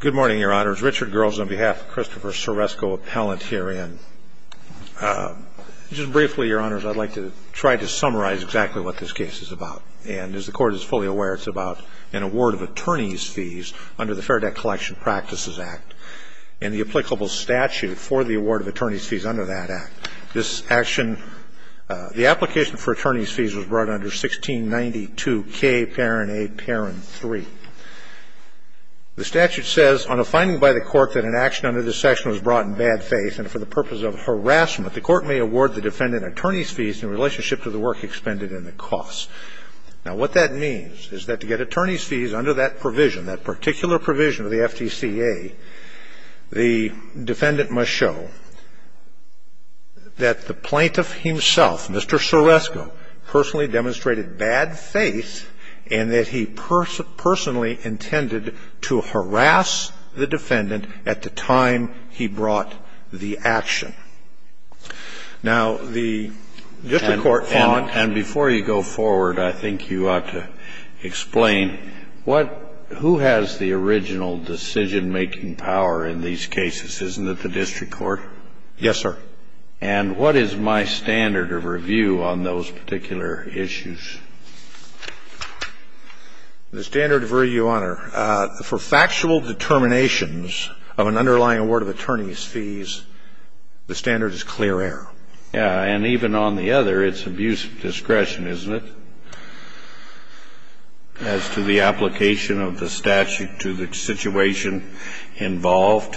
Good morning, Your Honors. Richard Groves on behalf of Christopher Ceresko Appellant herein. Just briefly, Your Honors, I'd like to try to summarize exactly what this case is about. And as the Court is fully aware, it's about an award of attorney's fees under the Fair Debt Collection Practices Act and the applicable statute for the award of attorney's fees under that act. This action, the application for attorney's fees was brought under 1692 K 3. The statute says, On a finding by the Court that an action under this section was brought in bad faith and for the purpose of harassment, the Court may award the defendant attorney's fees in relationship to the work expended and the costs. Now, what that means is that to get attorney's fees under that provision, that particular provision of the FDCA, the defendant must show that the plaintiff himself, Mr. Ceresko, personally demonstrated bad faith and that he personally intended to harass the defendant at the time he brought the action. Now, the District Court found — And before you go forward, I think you ought to explain what — who has the original decision- Yes, sir. And what is my standard of review on those particular issues? The standard of review, Your Honor, for factual determinations of an underlying award of attorney's fees, the standard is clear error. Yeah. And even on the other, it's abuse of discretion, isn't it, as to the application of the statute to the situation involved?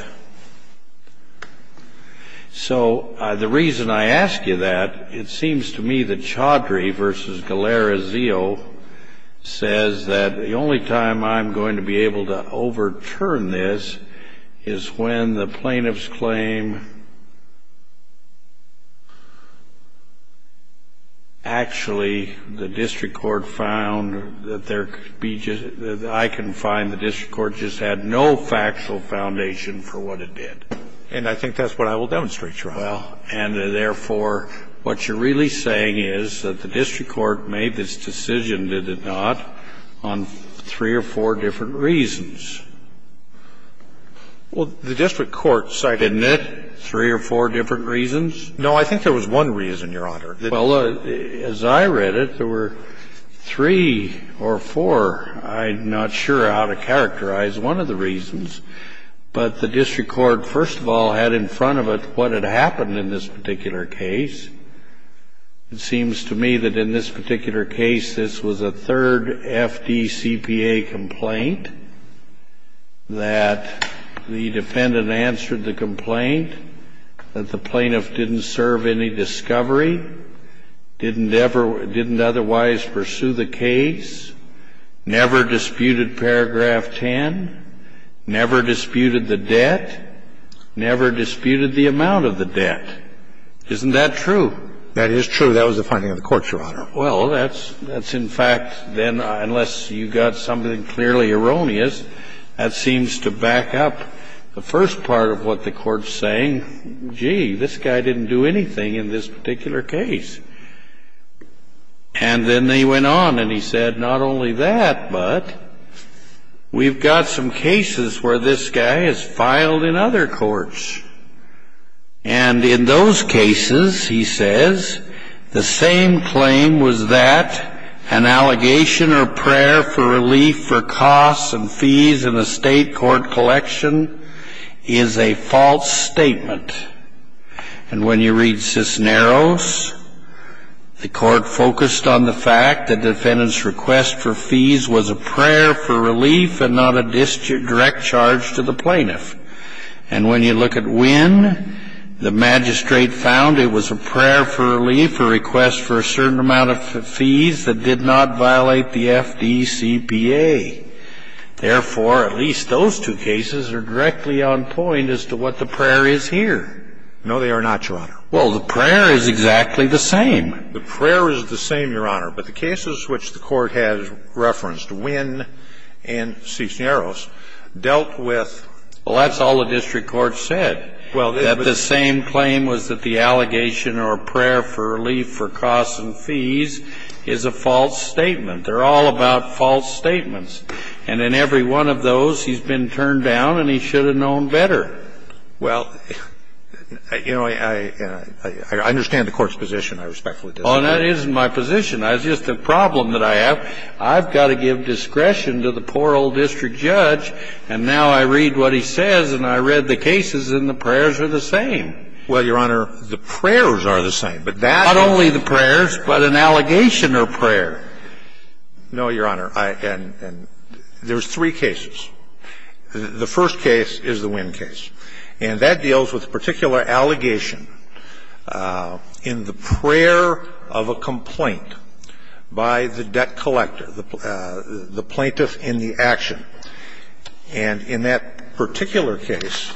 So the reason I ask you that, it seems to me that Chaudhry v. Galera-Zio says that the only time I'm going to be able to overturn this is when the I can find the District Court just had no factual foundation for what it did. And I think that's what I will demonstrate, Your Honor. Well, and therefore, what you're really saying is that the District Court made this decision, did it not, on three or four different reasons. Well, the District Court cited three or four different reasons. No, I think there was one reason, Your Honor. Well, as I read it, there were three or four. I'm not sure how to characterize one of the reasons. But the District Court, first of all, had in front of it what had happened in this particular case. It seems to me that in this particular case, this was a third FDCPA complaint, that the defendant answered the complaint, that the plaintiff didn't serve any discovery. Didn't otherwise pursue the case. Never disputed paragraph 10. Never disputed the debt. Never disputed the amount of the debt. Isn't that true? That is true. That was the finding of the Court, Your Honor. Well, that's in fact, then, unless you got something clearly erroneous, that seems to back up the first part of what the Court's saying, gee, this guy didn't do anything in this particular case. And then they went on, and he said, not only that, but we've got some cases where this guy has filed in other courts. And in those cases, he says, the same claim was that an allegation or prayer for relief for costs and fees in a state court collection is a false statement. And when you read Cisneros, the Court focused on the fact that the defendant's request for fees was a prayer for relief and not a direct charge to the plaintiff. And when you look at Winn, the magistrate found it was a prayer for relief, a request for a certain amount of fees that did not violate the FDCPA. Therefore, at least those two cases are directly on point as to what the prayer is here. No, they are not, Your Honor. Well, the prayer is exactly the same. The prayer is the same, Your Honor. But the cases which the Court has referenced, Winn and Cisneros, dealt with the same claim. Well, that's all the district court said, that the same claim was that the allegation or prayer for relief for costs and fees is a false statement. They're all about false statements. And in every one of those, he's been turned down, and he should have known better. Well, you know, I understand the Court's position. I respectfully disagree. Oh, that isn't my position. It's just a problem that I have. I've got to give discretion to the poor old district judge, and now I read what he says, and I read the cases, and the prayers are the same. Well, Your Honor, the prayers are the same. But that's the problem. Not only the prayers, but an allegation or prayer. No, Your Honor. And there's three cases. The first case is the Winn case. And that deals with a particular allegation in the prayer of a complaint by the debt collector, the plaintiff in the action. And in that particular case,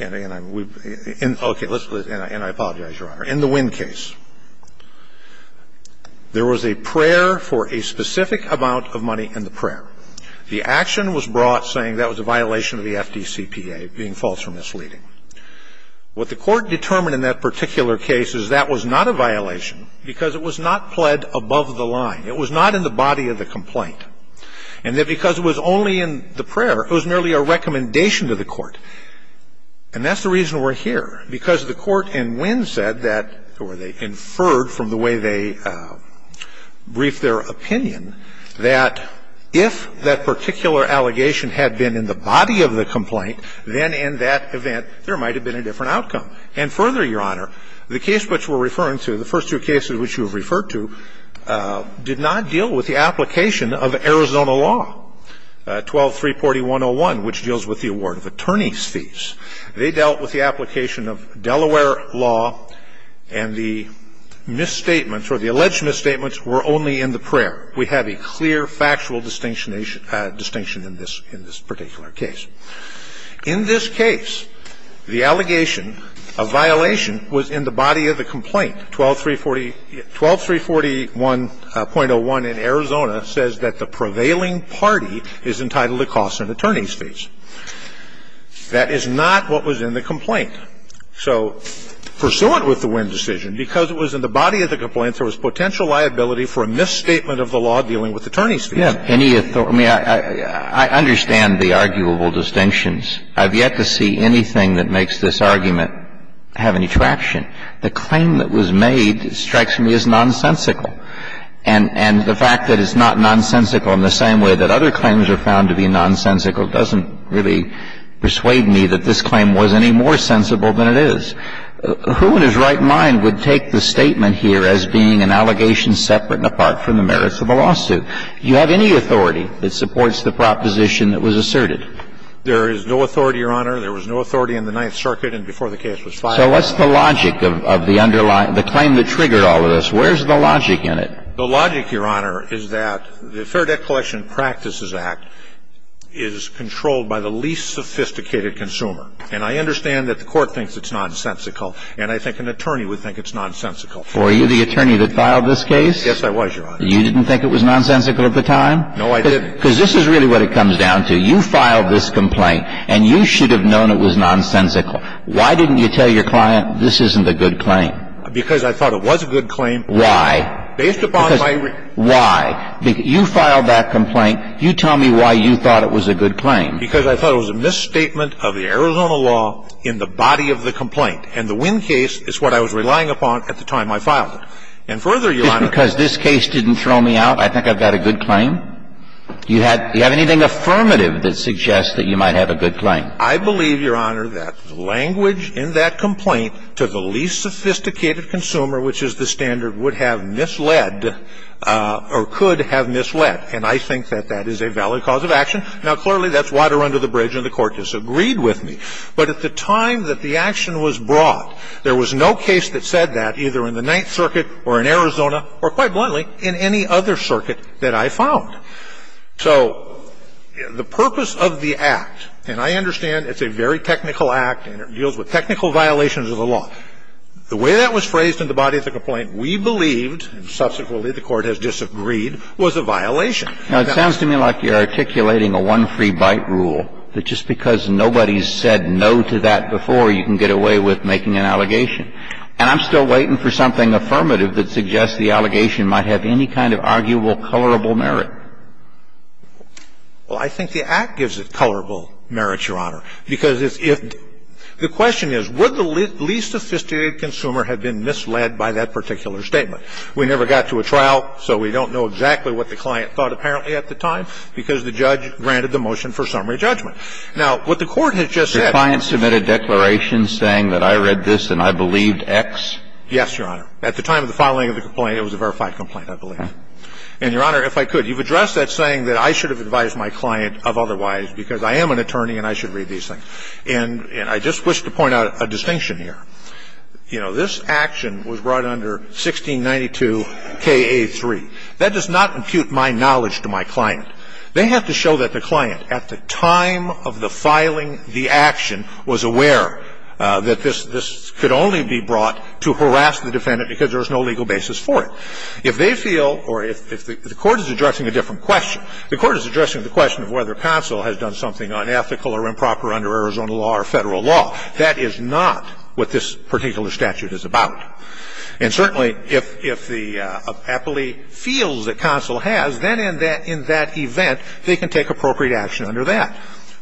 and I apologize, Your Honor. In the Winn case, there was a prayer for a specific amount of money in the prayer. The action was brought saying that was a violation of the FDCPA, being false or misleading. What the Court determined in that particular case is that was not a violation because it was not pled above the line. It was not in the body of the complaint. And that because it was only in the prayer, it was merely a recommendation to the Court. And that's the reason we're here, because the Court in Winn said that, or they inferred from the way they briefed their opinion, that if that particular allegation had been in the body of the complaint, then in that event, there might have been a different outcome. And further, Your Honor, the case which we're referring to, the first two cases which you have referred to, did not deal with the application of Arizona law, 12-340-101, which deals with the award of attorney's fees. They dealt with the application of Delaware law, and the misstatements or the alleged misstatements were only in the prayer. We have a clear factual distinction in this particular case. In this case, the allegation of violation was in the body of the complaint. 12-341.01 in Arizona says that the prevailing party is entitled to costs and attorney's fees. That is not what was in the complaint. So pursuant with the Winn decision, because it was in the body of the complaint, there was potential liability for a misstatement of the law dealing with attorney's fees. Kennedy, I mean, I understand the arguable distinctions. I have yet to see anything that makes this argument have any traction. The claim that was made strikes me as nonsensical. And the fact that it's not nonsensical in the same way that other claims are found to be nonsensical doesn't really persuade me that this claim was any more sensible than it is. Who in his right mind would take the statement here as being an allegation separate and apart from the merits of a lawsuit? Do you have any authority that supports the proposition that was asserted? There is no authority, Your Honor. There was no authority in the Ninth Circuit and before the case was filed. So what's the logic of the underlying the claim that triggered all of this? Where's the logic in it? The logic, Your Honor, is that the Fair Debt Collection Practices Act is controlled by the least sophisticated consumer. And I understand that the Court thinks it's nonsensical, and I think an attorney would think it's nonsensical. Were you the attorney that filed this case? Yes, I was, Your Honor. You didn't think it was nonsensical at the time? No, I didn't. Because this is really what it comes down to. You filed this complaint, and you should have known it was nonsensical. Why didn't you tell your client, this isn't a good claim? Because I thought it was a good claim. Why? Based upon my reason. Why? You filed that complaint. You tell me why you thought it was a good claim. Because I thought it was a misstatement of the Arizona law in the body of the complaint. And the Wynn case is what I was relying upon at the time I filed it. And further, Your Honor Just because this case didn't throw me out, I think I've got a good claim? Do you have anything affirmative that suggests that you might have a good claim? I believe, Your Honor, that the language in that complaint to the least sophisticated consumer, which is the standard, would have misled or could have misled. And I think that that is a valid cause of action. Now, clearly, that's water under the bridge, and the Court disagreed with me. But at the time that the action was brought, there was no case that said that, either in the Ninth Circuit or in Arizona or, quite bluntly, in any other circuit that I found. So the purpose of the act, and I understand it's a very technical act and it deals with technical violations of the law. The way that was phrased in the body of the complaint, we believed, and subsequently the Court has disagreed, was a violation. Now, it sounds to me like you're articulating a one-free-bite rule, that just because nobody's said no to that before, you can get away with making an allegation. And I'm still waiting for something affirmative that suggests the allegation might have any kind of arguable, colorable merit. Well, I think the act gives it colorable merit, Your Honor, because if the question is, would the least sophisticated consumer have been misled by that particular statement? We never got to a trial, so we don't know exactly what the client thought, apparently, at the time, because the judge granted the motion for summary judgment. Now, what the Court has just said is that the client submitted a declaration saying that I read this and I believed X. Yes, Your Honor. At the time of the filing of the complaint, it was a verified complaint, I believe. And, Your Honor, if I could, you've addressed that saying that I should have advised my client of otherwise, because I am an attorney and I should read these things. And I just wish to point out a distinction here. You know, this action was brought under 1692 K.A. 3. That does not impute my knowledge to my client. They have to show that the client, at the time of the filing the action, was aware that this could only be brought to harass the defendant because there is no legal basis for it. If they feel, or if the Court is addressing a different question, the Court is addressing the question of whether counsel has done something unethical or improper under Arizona law or Federal law. That is not what this particular statute is about. And certainly, if the appellee feels that counsel has, then in that event, they can take appropriate action under that.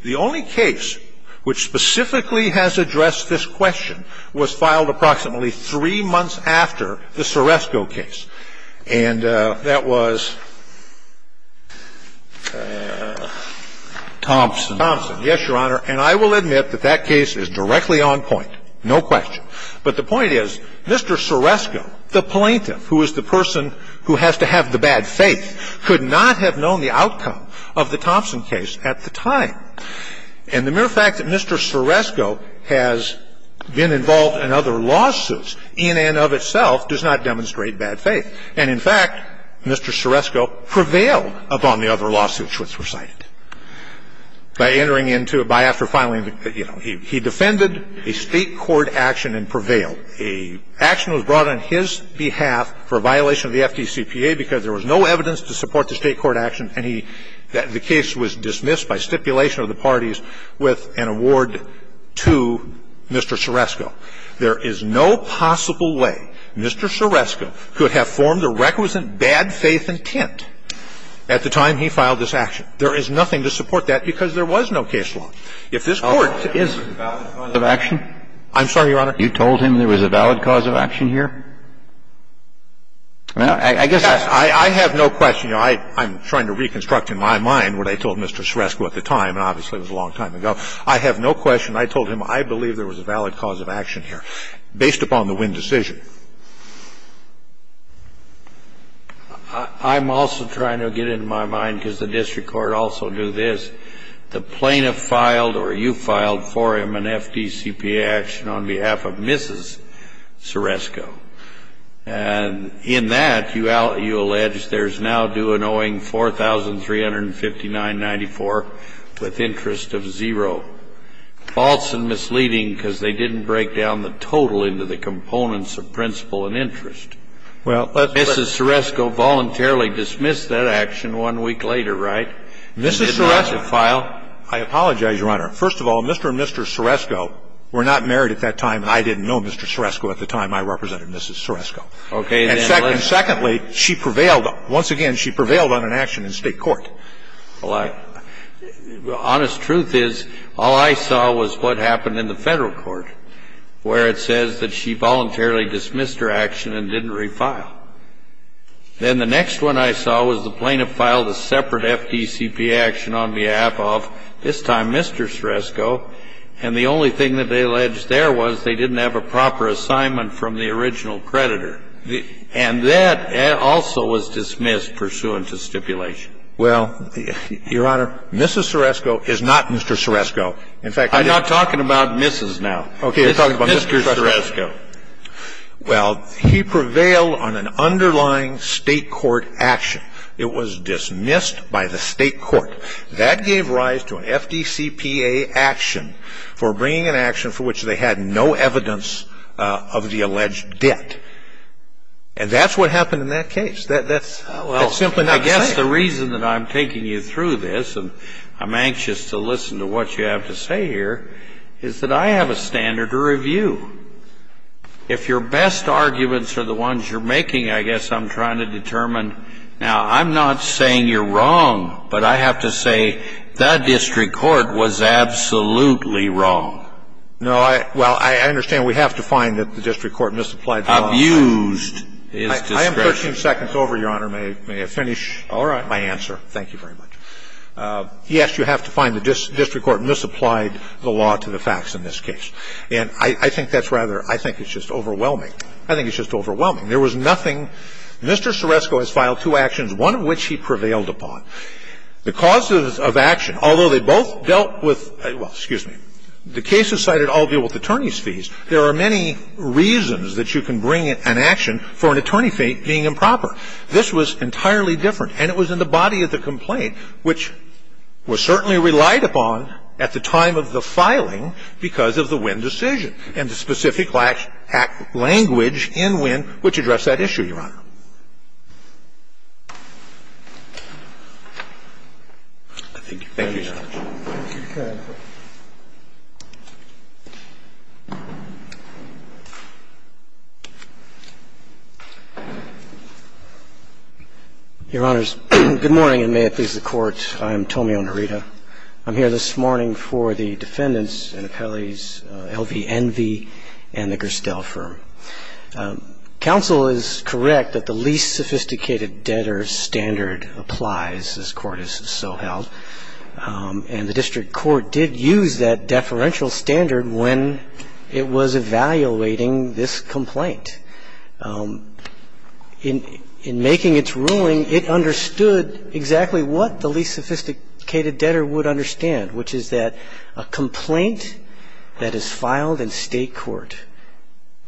The only case which specifically has addressed this question was filed approximately three months after the Soresco case, and that was Thompson. Thompson, yes, Your Honor. And I will admit that that case is directly on point, no question. But the point is, Mr. Soresco, the plaintiff, who is the person who has to have the bad faith, could not have known the outcome of the Thompson case at the time. And the mere fact that Mr. Soresco has been involved in other lawsuits in and of itself does not demonstrate bad faith. And, in fact, Mr. Soresco prevailed upon the other lawsuits which were cited. By entering into a by or after filing, you know, he defended a State court action and prevailed. An action was brought on his behalf for violation of the FDCPA because there was no evidence to support the State court action, and the case was dismissed by stipulation of the parties with an award to Mr. Soresco. There is no possible way Mr. Soresco could have formed a requisite bad faith intent at the time he filed this action. There is nothing to support that because there was no case law. If this Court is to do that, I'm sorry, Your Honor. You told him there was a valid cause of action here? I guess I have no question. You know, I'm trying to reconstruct in my mind what I told Mr. Soresco at the time, and obviously it was a long time ago. I have no question. I told him I believe there was a valid cause of action here based upon the Winn decision. I'm also trying to get it in my mind because the district court also do this. The plaintiff filed or you filed for him an FDCPA action on behalf of Mrs. Soresco, and in that you allege there is now due an owing $4,359.94 with interest of zero, false and false, and that's a violation of the Winn principle and interest. Mrs. Soresco voluntarily dismissed that action one week later, right? She did not file. I apologize, Your Honor. First of all, Mr. and Mr. Soresco were not married at that time. I didn't know Mr. Soresco at the time. I represented Mrs. Soresco. Okay. And secondly, she prevailed. Once again, she prevailed on an action in State court. Honest truth is, all I saw was what happened in the Federal court, where it says that she voluntarily dismissed her action and didn't refile. Then the next one I saw was the plaintiff filed a separate FDCPA action on behalf of, this time, Mr. Soresco, and the only thing that they alleged there was they didn't have a proper assignment from the original creditor, and that also was dismissed pursuant to stipulation. Well, Your Honor, Mrs. Soresco is not Mr. Soresco. In fact, I didn't ---- I'm not talking about Mrs. now. Okay. You're talking about Mr. Soresco. Well, he prevailed on an underlying State court action. It was dismissed by the State court. That gave rise to an FDCPA action for bringing an action for which they had no evidence of the alleged debt. And that's what happened in that case. That's simply not the same. I guess the reason that I'm taking you through this, and I'm anxious to listen to what you have to say here, is that I have a standard to review. If your best arguments are the ones you're making, I guess I'm trying to determine now, I'm not saying you're wrong, but I have to say that district court was absolutely wrong. No, I ---- well, I understand we have to find that the district court misapplied the law. Abused is discretion. 13 seconds over, Your Honor. May I finish my answer? Thank you very much. Yes, you have to find the district court misapplied the law to the facts in this case. And I think that's rather ---- I think it's just overwhelming. I think it's just overwhelming. There was nothing ---- Mr. Soresco has filed two actions, one of which he prevailed upon. The causes of action, although they both dealt with ---- well, excuse me. The cases cited all deal with attorney's fees. There are many reasons that you can bring an action for an attorney fee being improper. This was entirely different, and it was in the body of the complaint, which was certainly relied upon at the time of the filing because of the Winn decision and the specific language in Winn which addressed that issue, Your Honor. Thank you. Thank you, Your Honor. Your Honors, good morning, and may it please the Court, I am Tomeo Nerita. I'm here this morning for the defendants in Appellee's L.V. Envy and the Gerstel firm. Counsel is correct that the least sophisticated debtor standard applies, as the Court has so held. And the district court did use that deferential standard when it was evaluating this complaint. In making its ruling, it understood exactly what the least sophisticated debtor would understand, which is that a complaint that is filed in state court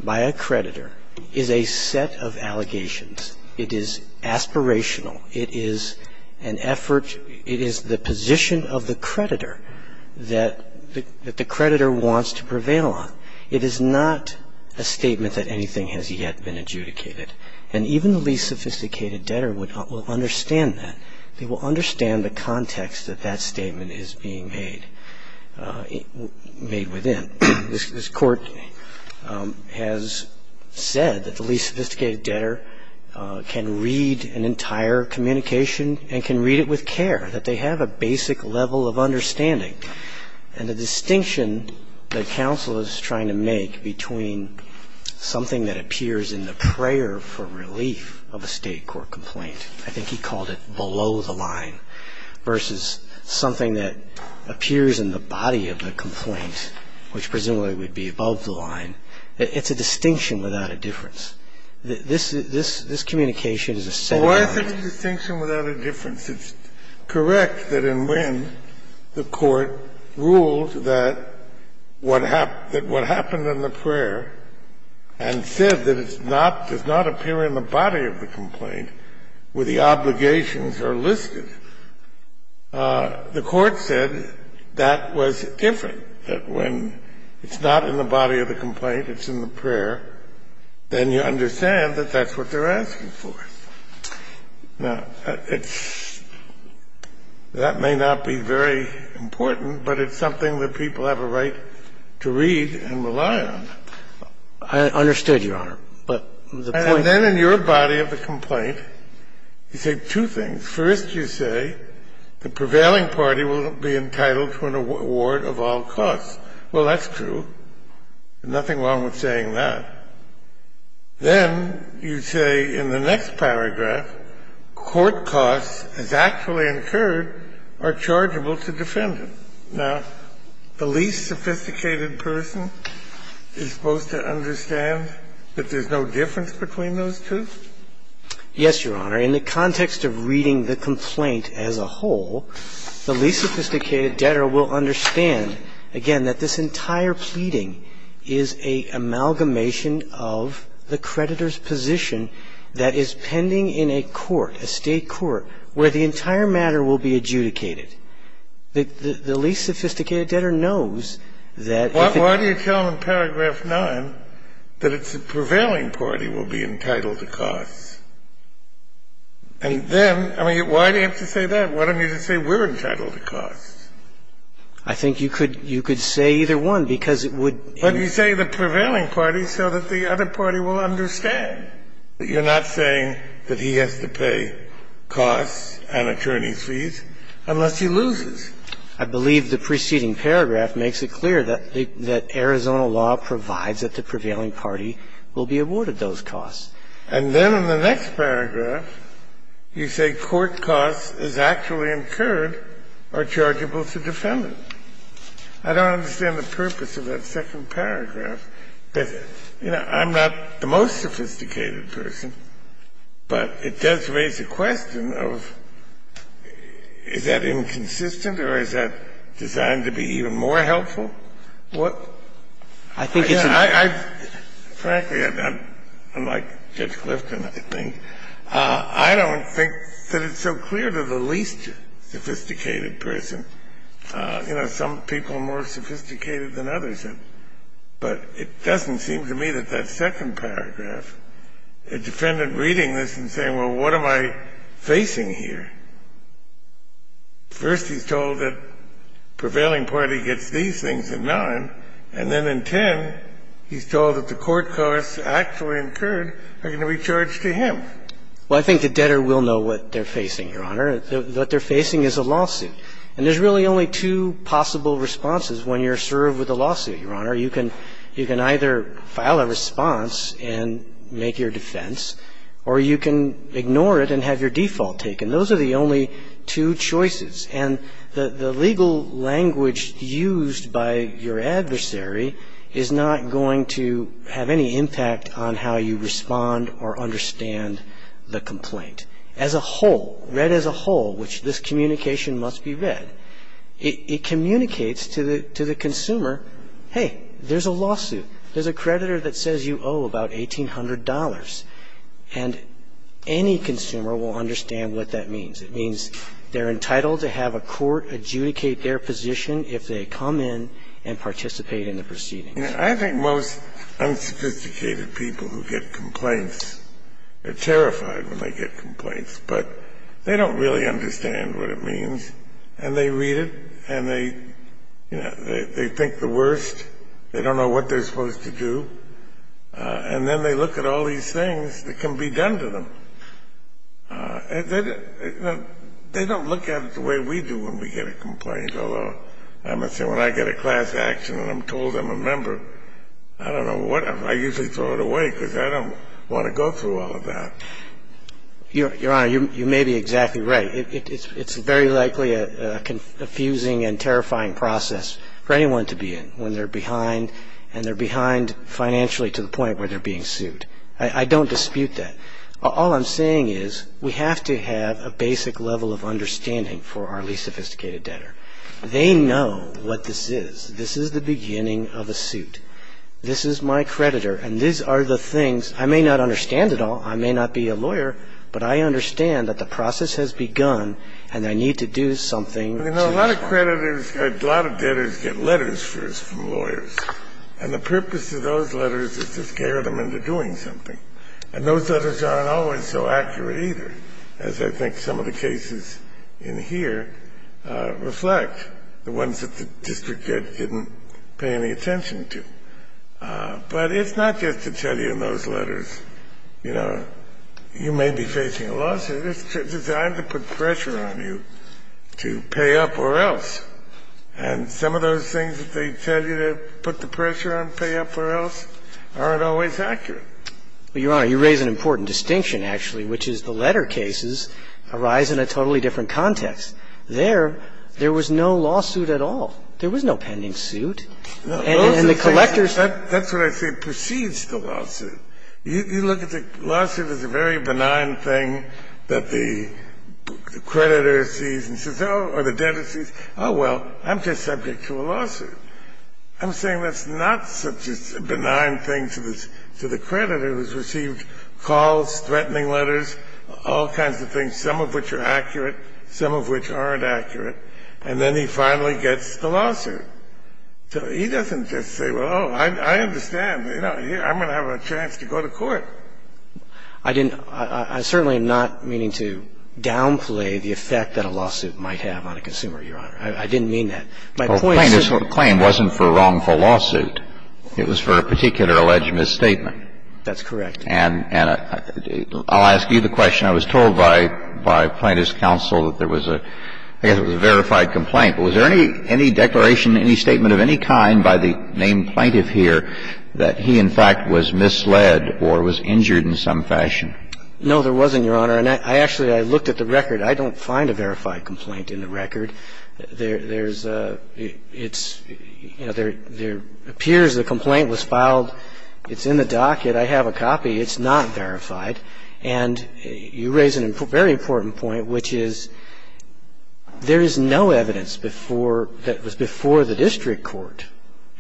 by a creditor is a set of allegations. It is aspirational. It is an effort. It is the position of the creditor that the creditor wants to prevail on. It is not a statement that anything has yet been adjudicated. And even the least sophisticated debtor will understand that. They will understand the context that that statement is being made within. And this Court has said that the least sophisticated debtor can read an entire communication and can read it with care, that they have a basic level of understanding. And the distinction that counsel is trying to make between something that appears in the prayer for relief of a state court complaint, I think he called it below the line, which presumably would be above the line, it's a distinction without a difference. This communication is a set of allegations. Kennedy. Well, why is it a distinction without a difference? It's correct that in Wynn, the Court ruled that what happened in the prayer and said that it's not, does not appear in the body of the complaint where the obligations are listed. The Court said that was different, that when it's not in the body of the complaint, it's in the prayer, then you understand that that's what they're asking for. Now, it's – that may not be very important, but it's something that people have a right to read and rely on. I understood, Your Honor. But the point is – And then in your body of the complaint, you say two things. First, you say the prevailing party will be entitled to an award of all costs. Well, that's true. Nothing wrong with saying that. Then you say in the next paragraph, court costs, as actually incurred, are chargeable to defendant. Now, the least sophisticated person is supposed to understand that there's no difference between those two? Yes, Your Honor. In the context of reading the complaint as a whole, the least sophisticated debtor will understand, again, that this entire pleading is an amalgamation of the creditor's position that is pending in a court, a state court, where the entire matter will be adjudicated. The least sophisticated debtor knows that if it – And then, I mean, why do you have to say that? Why don't you just say we're entitled to costs? I think you could – you could say either one, because it would – But you say the prevailing party so that the other party will understand. You're not saying that he has to pay costs and attorney's fees unless he loses. I believe the preceding paragraph makes it clear that the – that Arizona law provides that the prevailing party will be awarded those costs. And then in the next paragraph, you say court costs as actually incurred are chargeable to defendant. I don't understand the purpose of that second paragraph. You know, I'm not the most sophisticated person, but it does raise a question of is that inconsistent or is that designed to be even more helpful? What – I think it's a – Frankly, I'm not – unlike Judge Clifton, I think, I don't think that it's so clear to the least sophisticated person. You know, some people are more sophisticated than others are. But it doesn't seem to me that that second paragraph, a defendant reading this and saying, well, what am I facing here, first he's told that prevailing party gets these things in line, and then in 10, he's told that the court costs actually incurred are going to be charged to him. Well, I think the debtor will know what they're facing, Your Honor. What they're facing is a lawsuit. And there's really only two possible responses when you're served with a lawsuit, Your Honor. You can either file a response and make your defense, or you can ignore it and have your default taken. Those are the only two choices. And the legal language used by your adversary is not going to have any impact on how you respond or understand the complaint as a whole, read as a whole, which this communication must be read. It communicates to the consumer, hey, there's a lawsuit. There's a creditor that says you owe about $1,800. And any consumer will understand what that means. It means they're entitled to have a court adjudicate their position if they come in and participate in the proceedings. I think most unsophisticated people who get complaints are terrified when they get complaints, but they don't really understand what it means. And they read it, and they, you know, they think the worst. They don't know what they're supposed to do. And then they look at all these things that can be done to them. And they don't look at it the way we do when we get a complaint. Although, I must say, when I get a class action and I'm told I'm a member, I don't know what I'm going to do. I usually throw it away because I don't want to go through all of that. Your Honor, you may be exactly right. It's very likely a confusing and terrifying process for anyone to be in when they're behind, and they're behind financially to the point where they're being sued. I don't dispute that. All I'm saying is we have to have a basic level of understanding for our least sophisticated debtor. They know what this is. This is the beginning of a suit. This is my creditor, and these are the things. I may not understand it all. I may not be a lawyer, but I understand that the process has begun, and I need to do something to get it done. You know, a lot of creditors, a lot of debtors get letters first from lawyers. And the purpose of those letters is to scare them into doing something. And those letters aren't always so accurate either, as I think some of the cases in here reflect, the ones that the district judge didn't pay any attention to. But it's not just to tell you in those letters, you know, you may be facing a lawsuit. It's designed to put pressure on you to pay up or else. And some of those things that they tell you to put the pressure on, pay up or else, aren't always accurate. Well, Your Honor, you raise an important distinction, actually, which is the letter cases arise in a totally different context. There, there was no lawsuit at all. There was no pending suit. And the collectors ---- That's what I say precedes the lawsuit. You look at the lawsuit as a very benign thing that the creditor sees and says, oh, or the debtor sees, oh, well, I'm just subject to a lawsuit. I'm saying that's not such a benign thing to the creditor who's received calls, threatening letters, all kinds of things, some of which are accurate, some of which aren't accurate. And then he finally gets the lawsuit. So he doesn't just say, well, oh, I understand. You know, I'm going to have a chance to go to court. I didn't ---- I certainly am not meaning to downplay the effect that a lawsuit might have on a consumer, Your Honor. I didn't mean that. My point is ---- Well, the claim wasn't for a wrongful lawsuit. It was for a particular alleged misstatement. That's correct. And I'll ask you the question. I was told by plaintiff's counsel that there was a ---- I guess it was a verified complaint. But was there any declaration, any statement of any kind by the named plaintiff here that he, in fact, was misled or was injured in some fashion? No, there wasn't, Your Honor. I don't find a verified complaint in the record. There's a ---- it's ---- you know, there appears a complaint was filed. It's in the docket. I have a copy. It's not verified. And you raise a very important point, which is there is no evidence before ---- that was before the district court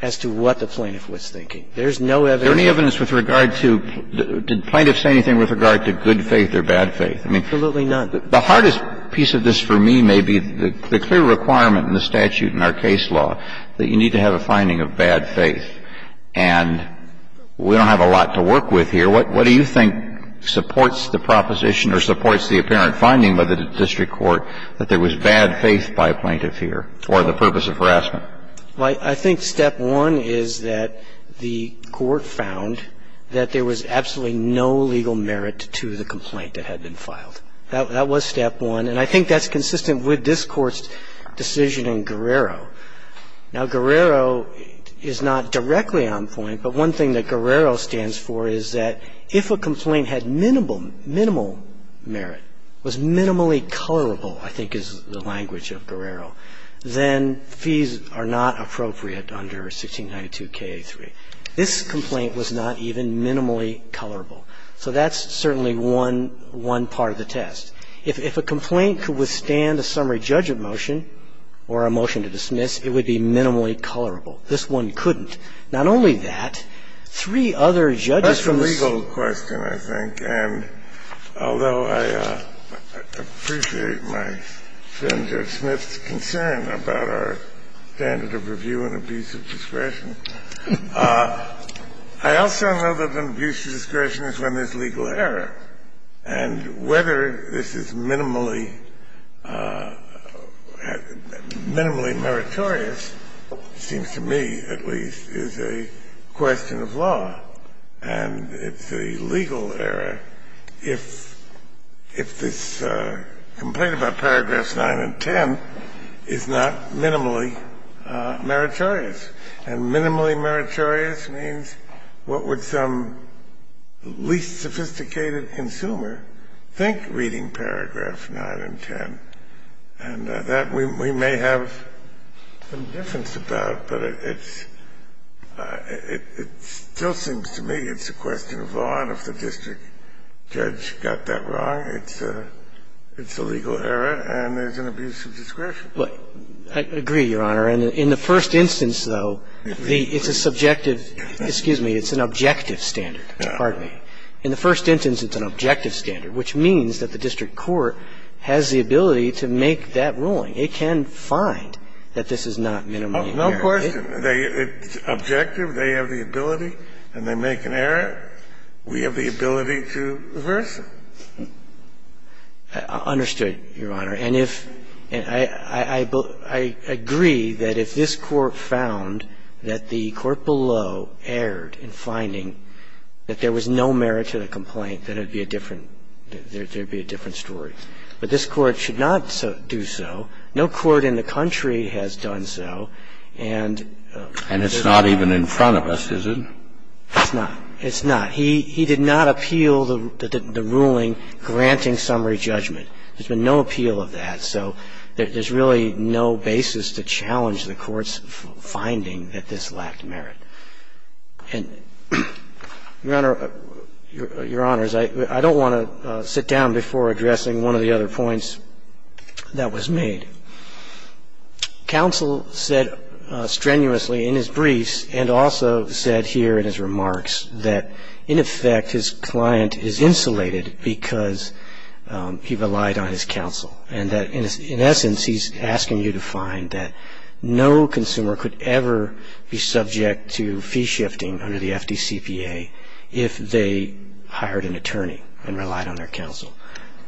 as to what the plaintiff was thinking. There's no evidence. Is there any evidence with regard to ---- did plaintiffs say anything with regard to good faith or bad faith? Absolutely none. The hardest piece of this for me may be the clear requirement in the statute in our case law that you need to have a finding of bad faith. And we don't have a lot to work with here. What do you think supports the proposition or supports the apparent finding by the district court that there was bad faith by a plaintiff here or the purpose of harassment? I think step one is that the court found that there was absolutely no legal merit to the complaint that had been filed. That was step one. And I think that's consistent with this Court's decision in Guerrero. Now, Guerrero is not directly on point, but one thing that Guerrero stands for is that if a complaint had minimal, minimal merit, was minimally colorable, I think is the language of Guerrero, then fees are not appropriate under 1692k3. This complaint was not even minimally colorable. So that's certainly one, one part of the test. If a complaint could withstand a summary judgment motion or a motion to dismiss, it would be minimally colorable. This one couldn't. Not only that, three other judges from the state. That's a legal question, I think. And although I appreciate my friend Joe Smith's concern about our standard of review and abuse of discretion, I also know that an abuse of discretion is when there's legal error. And whether this is minimally, minimally meritorious, it seems to me at least, is a question of law. And it's a legal error if this complaint about paragraphs 9 and 10 is not minimally meritorious. And minimally meritorious means what would some least sophisticated consumer think reading paragraph 9 and 10? And that we may have some difference about, but it's still seems to me it's a question of law, and if the district judge got that wrong, it's a legal error and there's an abuse of discretion. I agree, Your Honor. And in the first instance, though, it's a subjective – excuse me, it's an objective standard. Pardon me. In the first instance, it's an objective standard, which means that the district court has the ability to make that ruling. It can find that this is not minimally meritorious. No question. It's objective. They have the ability. And they make an error. We have the ability to reverse it. Understood, Your Honor. And if – I agree that if this Court found that the court below erred in finding that there was no merit to the complaint, then it would be a different – there would be a different story. But this Court should not do so. No court in the country has done so. And it's not even in front of us, is it? It's not. It's not. He did not appeal the ruling granting summary judgment. There's been no appeal of that. So there's really no basis to challenge the Court's finding that this lacked merit. And, Your Honor – Your Honors, I don't want to sit down before addressing one of the other points that was made. Counsel said strenuously in his briefs and also said here in his remarks that in fact his client is insulated because he relied on his counsel and that in essence he's asking you to find that no consumer could ever be subject to fee shifting under the FDCPA if they hired an attorney and relied on their counsel.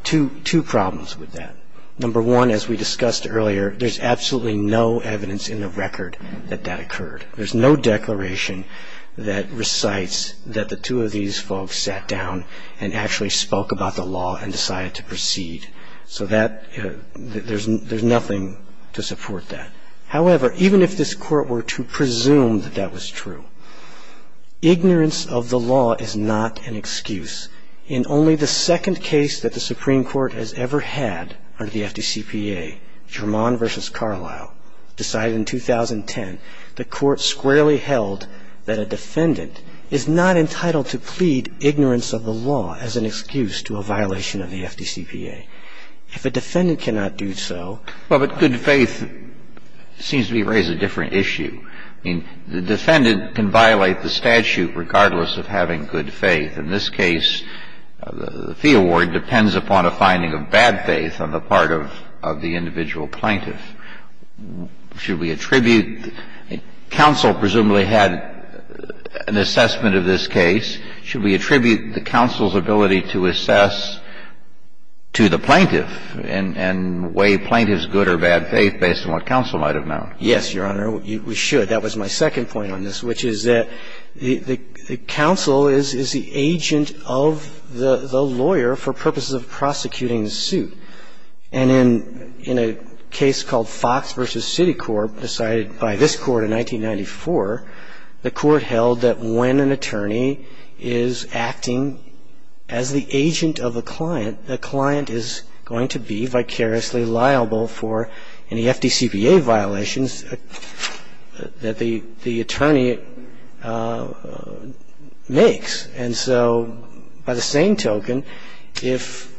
Two problems with that. Number one, as we discussed earlier, there's absolutely no evidence in the record that that occurred. There's no declaration that recites that the two of these folks sat down and actually spoke about the law and decided to proceed. So there's nothing to support that. However, even if this Court were to presume that that was true, ignorance of the law is not an excuse. In only the second case that the Supreme Court has ever had under the FDCPA, Germon v. Carlisle, decided in 2010, the Court squarely held that a defendant is not entitled to plead ignorance of the law as an excuse to a violation of the FDCPA. If a defendant cannot do so… Well, but good faith seems to be raised a different issue. I mean, the defendant can violate the statute regardless of having good faith. In this case, the fee award depends upon a finding of bad faith on the part of the individual plaintiff. Should we attribute — counsel presumably had an assessment of this case. Should we attribute the counsel's ability to assess to the plaintiff and weigh plaintiff's good or bad faith based on what counsel might have known? Yes, Your Honor. We should. That was my second point on this, which is that the counsel is the agent of the lawyer for purposes of prosecuting the suit. And in a case called Fox v. Citicorp, decided by this Court in 1994, the Court held that when an attorney is acting as the agent of a client, the client is going to be vicariously liable for any FDCPA violations that the attorney makes. And so by the same token, if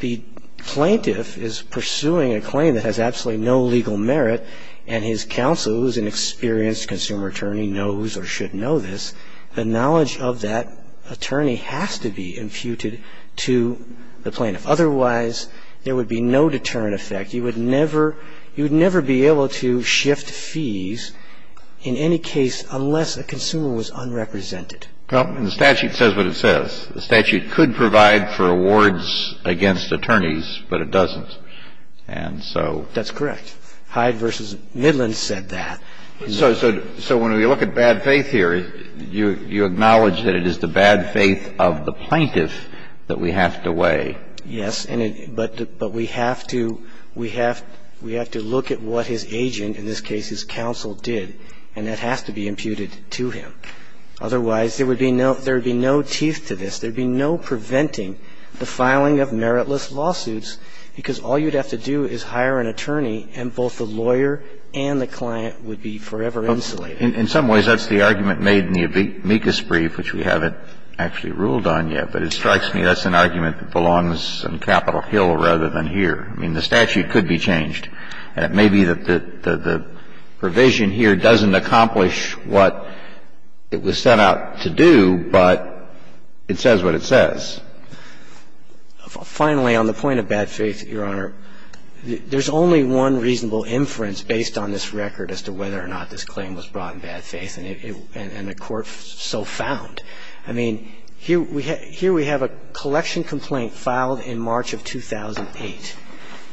the plaintiff is pursuing a claim that has absolutely no legal merit and his counsel, who is an experienced consumer attorney, knows or should know this, the knowledge of that attorney has to be imputed to the plaintiff. Otherwise, there would be no deterrent effect. You would never be able to shift fees in any case unless a consumer was unrepresented. Well, and the statute says what it says. The statute could provide for awards against attorneys, but it doesn't. And so that's correct. Hyde v. Midland said that. So when we look at bad faith here, you acknowledge that it is the bad faith of the plaintiff that we have to weigh. Yes. But we have to look at what his agent, in this case his counsel, did. And that has to be imputed to him. Otherwise, there would be no teeth to this. There would be no preventing the filing of meritless lawsuits, because all you'd have to do is hire an attorney and both the lawyer and the client would be forever insulated. In some ways, that's the argument made in the amicus brief, which we haven't actually ruled on yet. But it strikes me that's an argument that belongs on Capitol Hill rather than here. I mean, the statute could be changed. And it may be that the provision here doesn't accomplish what it was set out to do, but it says what it says. Finally, on the point of bad faith, Your Honor, there's only one reasonable inference based on this record as to whether or not this claim was brought in bad faith, and the Court so found. I mean, here we have a collection complaint filed in March of 2008.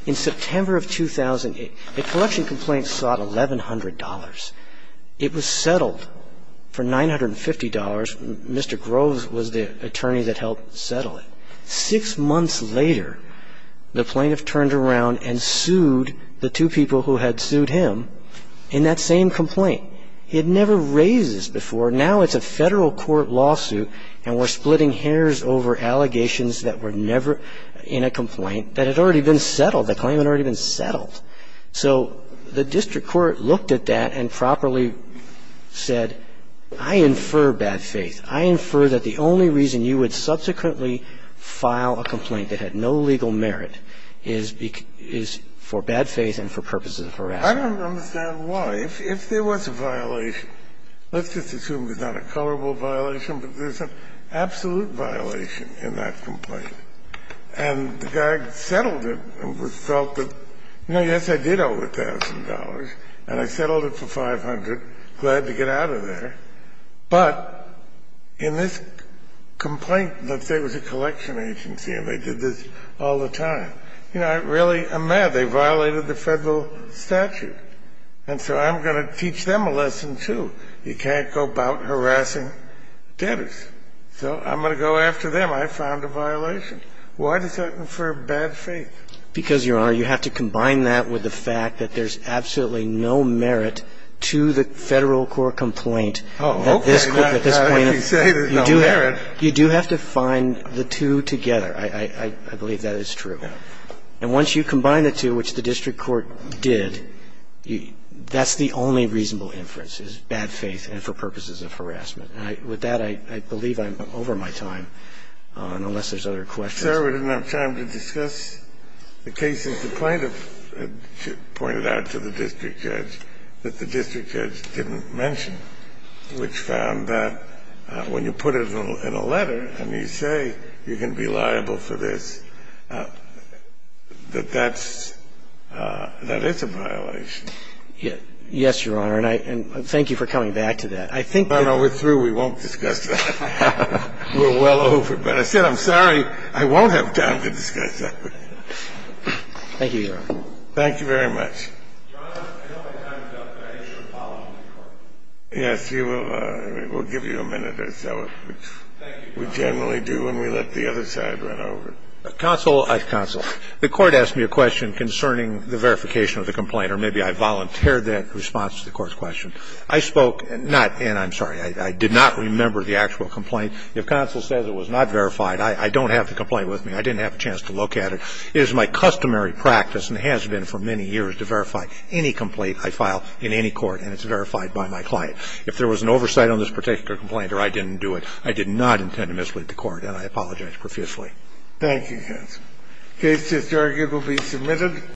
In September of 2008, a collection complaint sought $1,100. It was settled for $950. Mr. Groves was the attorney that helped settle it. Six months later, the plaintiff turned around and sued the two people who had sued him in that same complaint. He had never raised this before. Now it's a federal court lawsuit, and we're splitting hairs over allegations that were The claim had already been settled. The claim had already been settled. So the district court looked at that and properly said, I infer bad faith. I infer that the only reason you would subsequently file a complaint that had no legal merit is for bad faith and for purposes of harassment. I don't understand why. If there was a violation, let's just assume there's not a coverable violation, but there's an absolute violation in that complaint. And the guy settled it and felt that, you know, yes, I did owe $1,000, and I settled it for $500. Glad to get out of there. But in this complaint, let's say it was a collection agency and they did this all the time. You know, I really am mad. They violated the federal statute. And so I'm going to teach them a lesson, too. You can't go about harassing debtors. So I'm going to go after them. I found a violation. Why does that infer bad faith? Because, Your Honor, you have to combine that with the fact that there's absolutely no merit to the federal court complaint. Oh, okay. Not that you say there's no merit. You do have to find the two together. I believe that is true. And once you combine the two, which the district court did, that's the only reasonable inference, is bad faith and for purposes of harassment. And with that, I believe I'm over my time, unless there's other questions. Sir, we didn't have time to discuss the cases. The plaintiff pointed out to the district judge that the district judge didn't mention, which found that when you put it in a letter and you say you're going to be liable for this, that that's – that is a violation. Yes, Your Honor. And I thank you for coming back to that. I think that – No, no. We're through. We won't discuss that. We're well over. But I said I'm sorry. I won't have time to discuss that with you. Thank you, Your Honor. Thank you very much. Your Honor, I know my time is up, but I think you should follow up with the Court. Yes, you will. We'll give you a minute or so. Thank you, Your Honor. We generally do when we let the other side run over. Counsel. Counsel. The Court asked me a question concerning the verification of the complaint, or maybe I volunteered that in response to the Court's question. I spoke – not – and I'm sorry. I did not remember the actual complaint. If counsel says it was not verified, I don't have the complaint with me. I didn't have a chance to look at it. It is my customary practice and has been for many years to verify any complaint I file in any court, and it's verified by my client. If there was an oversight on this particular complaint or I didn't do it, I did not intend to mislead the Court, and I apologize profusely. Thank you, counsel. The case is argued to be submitted.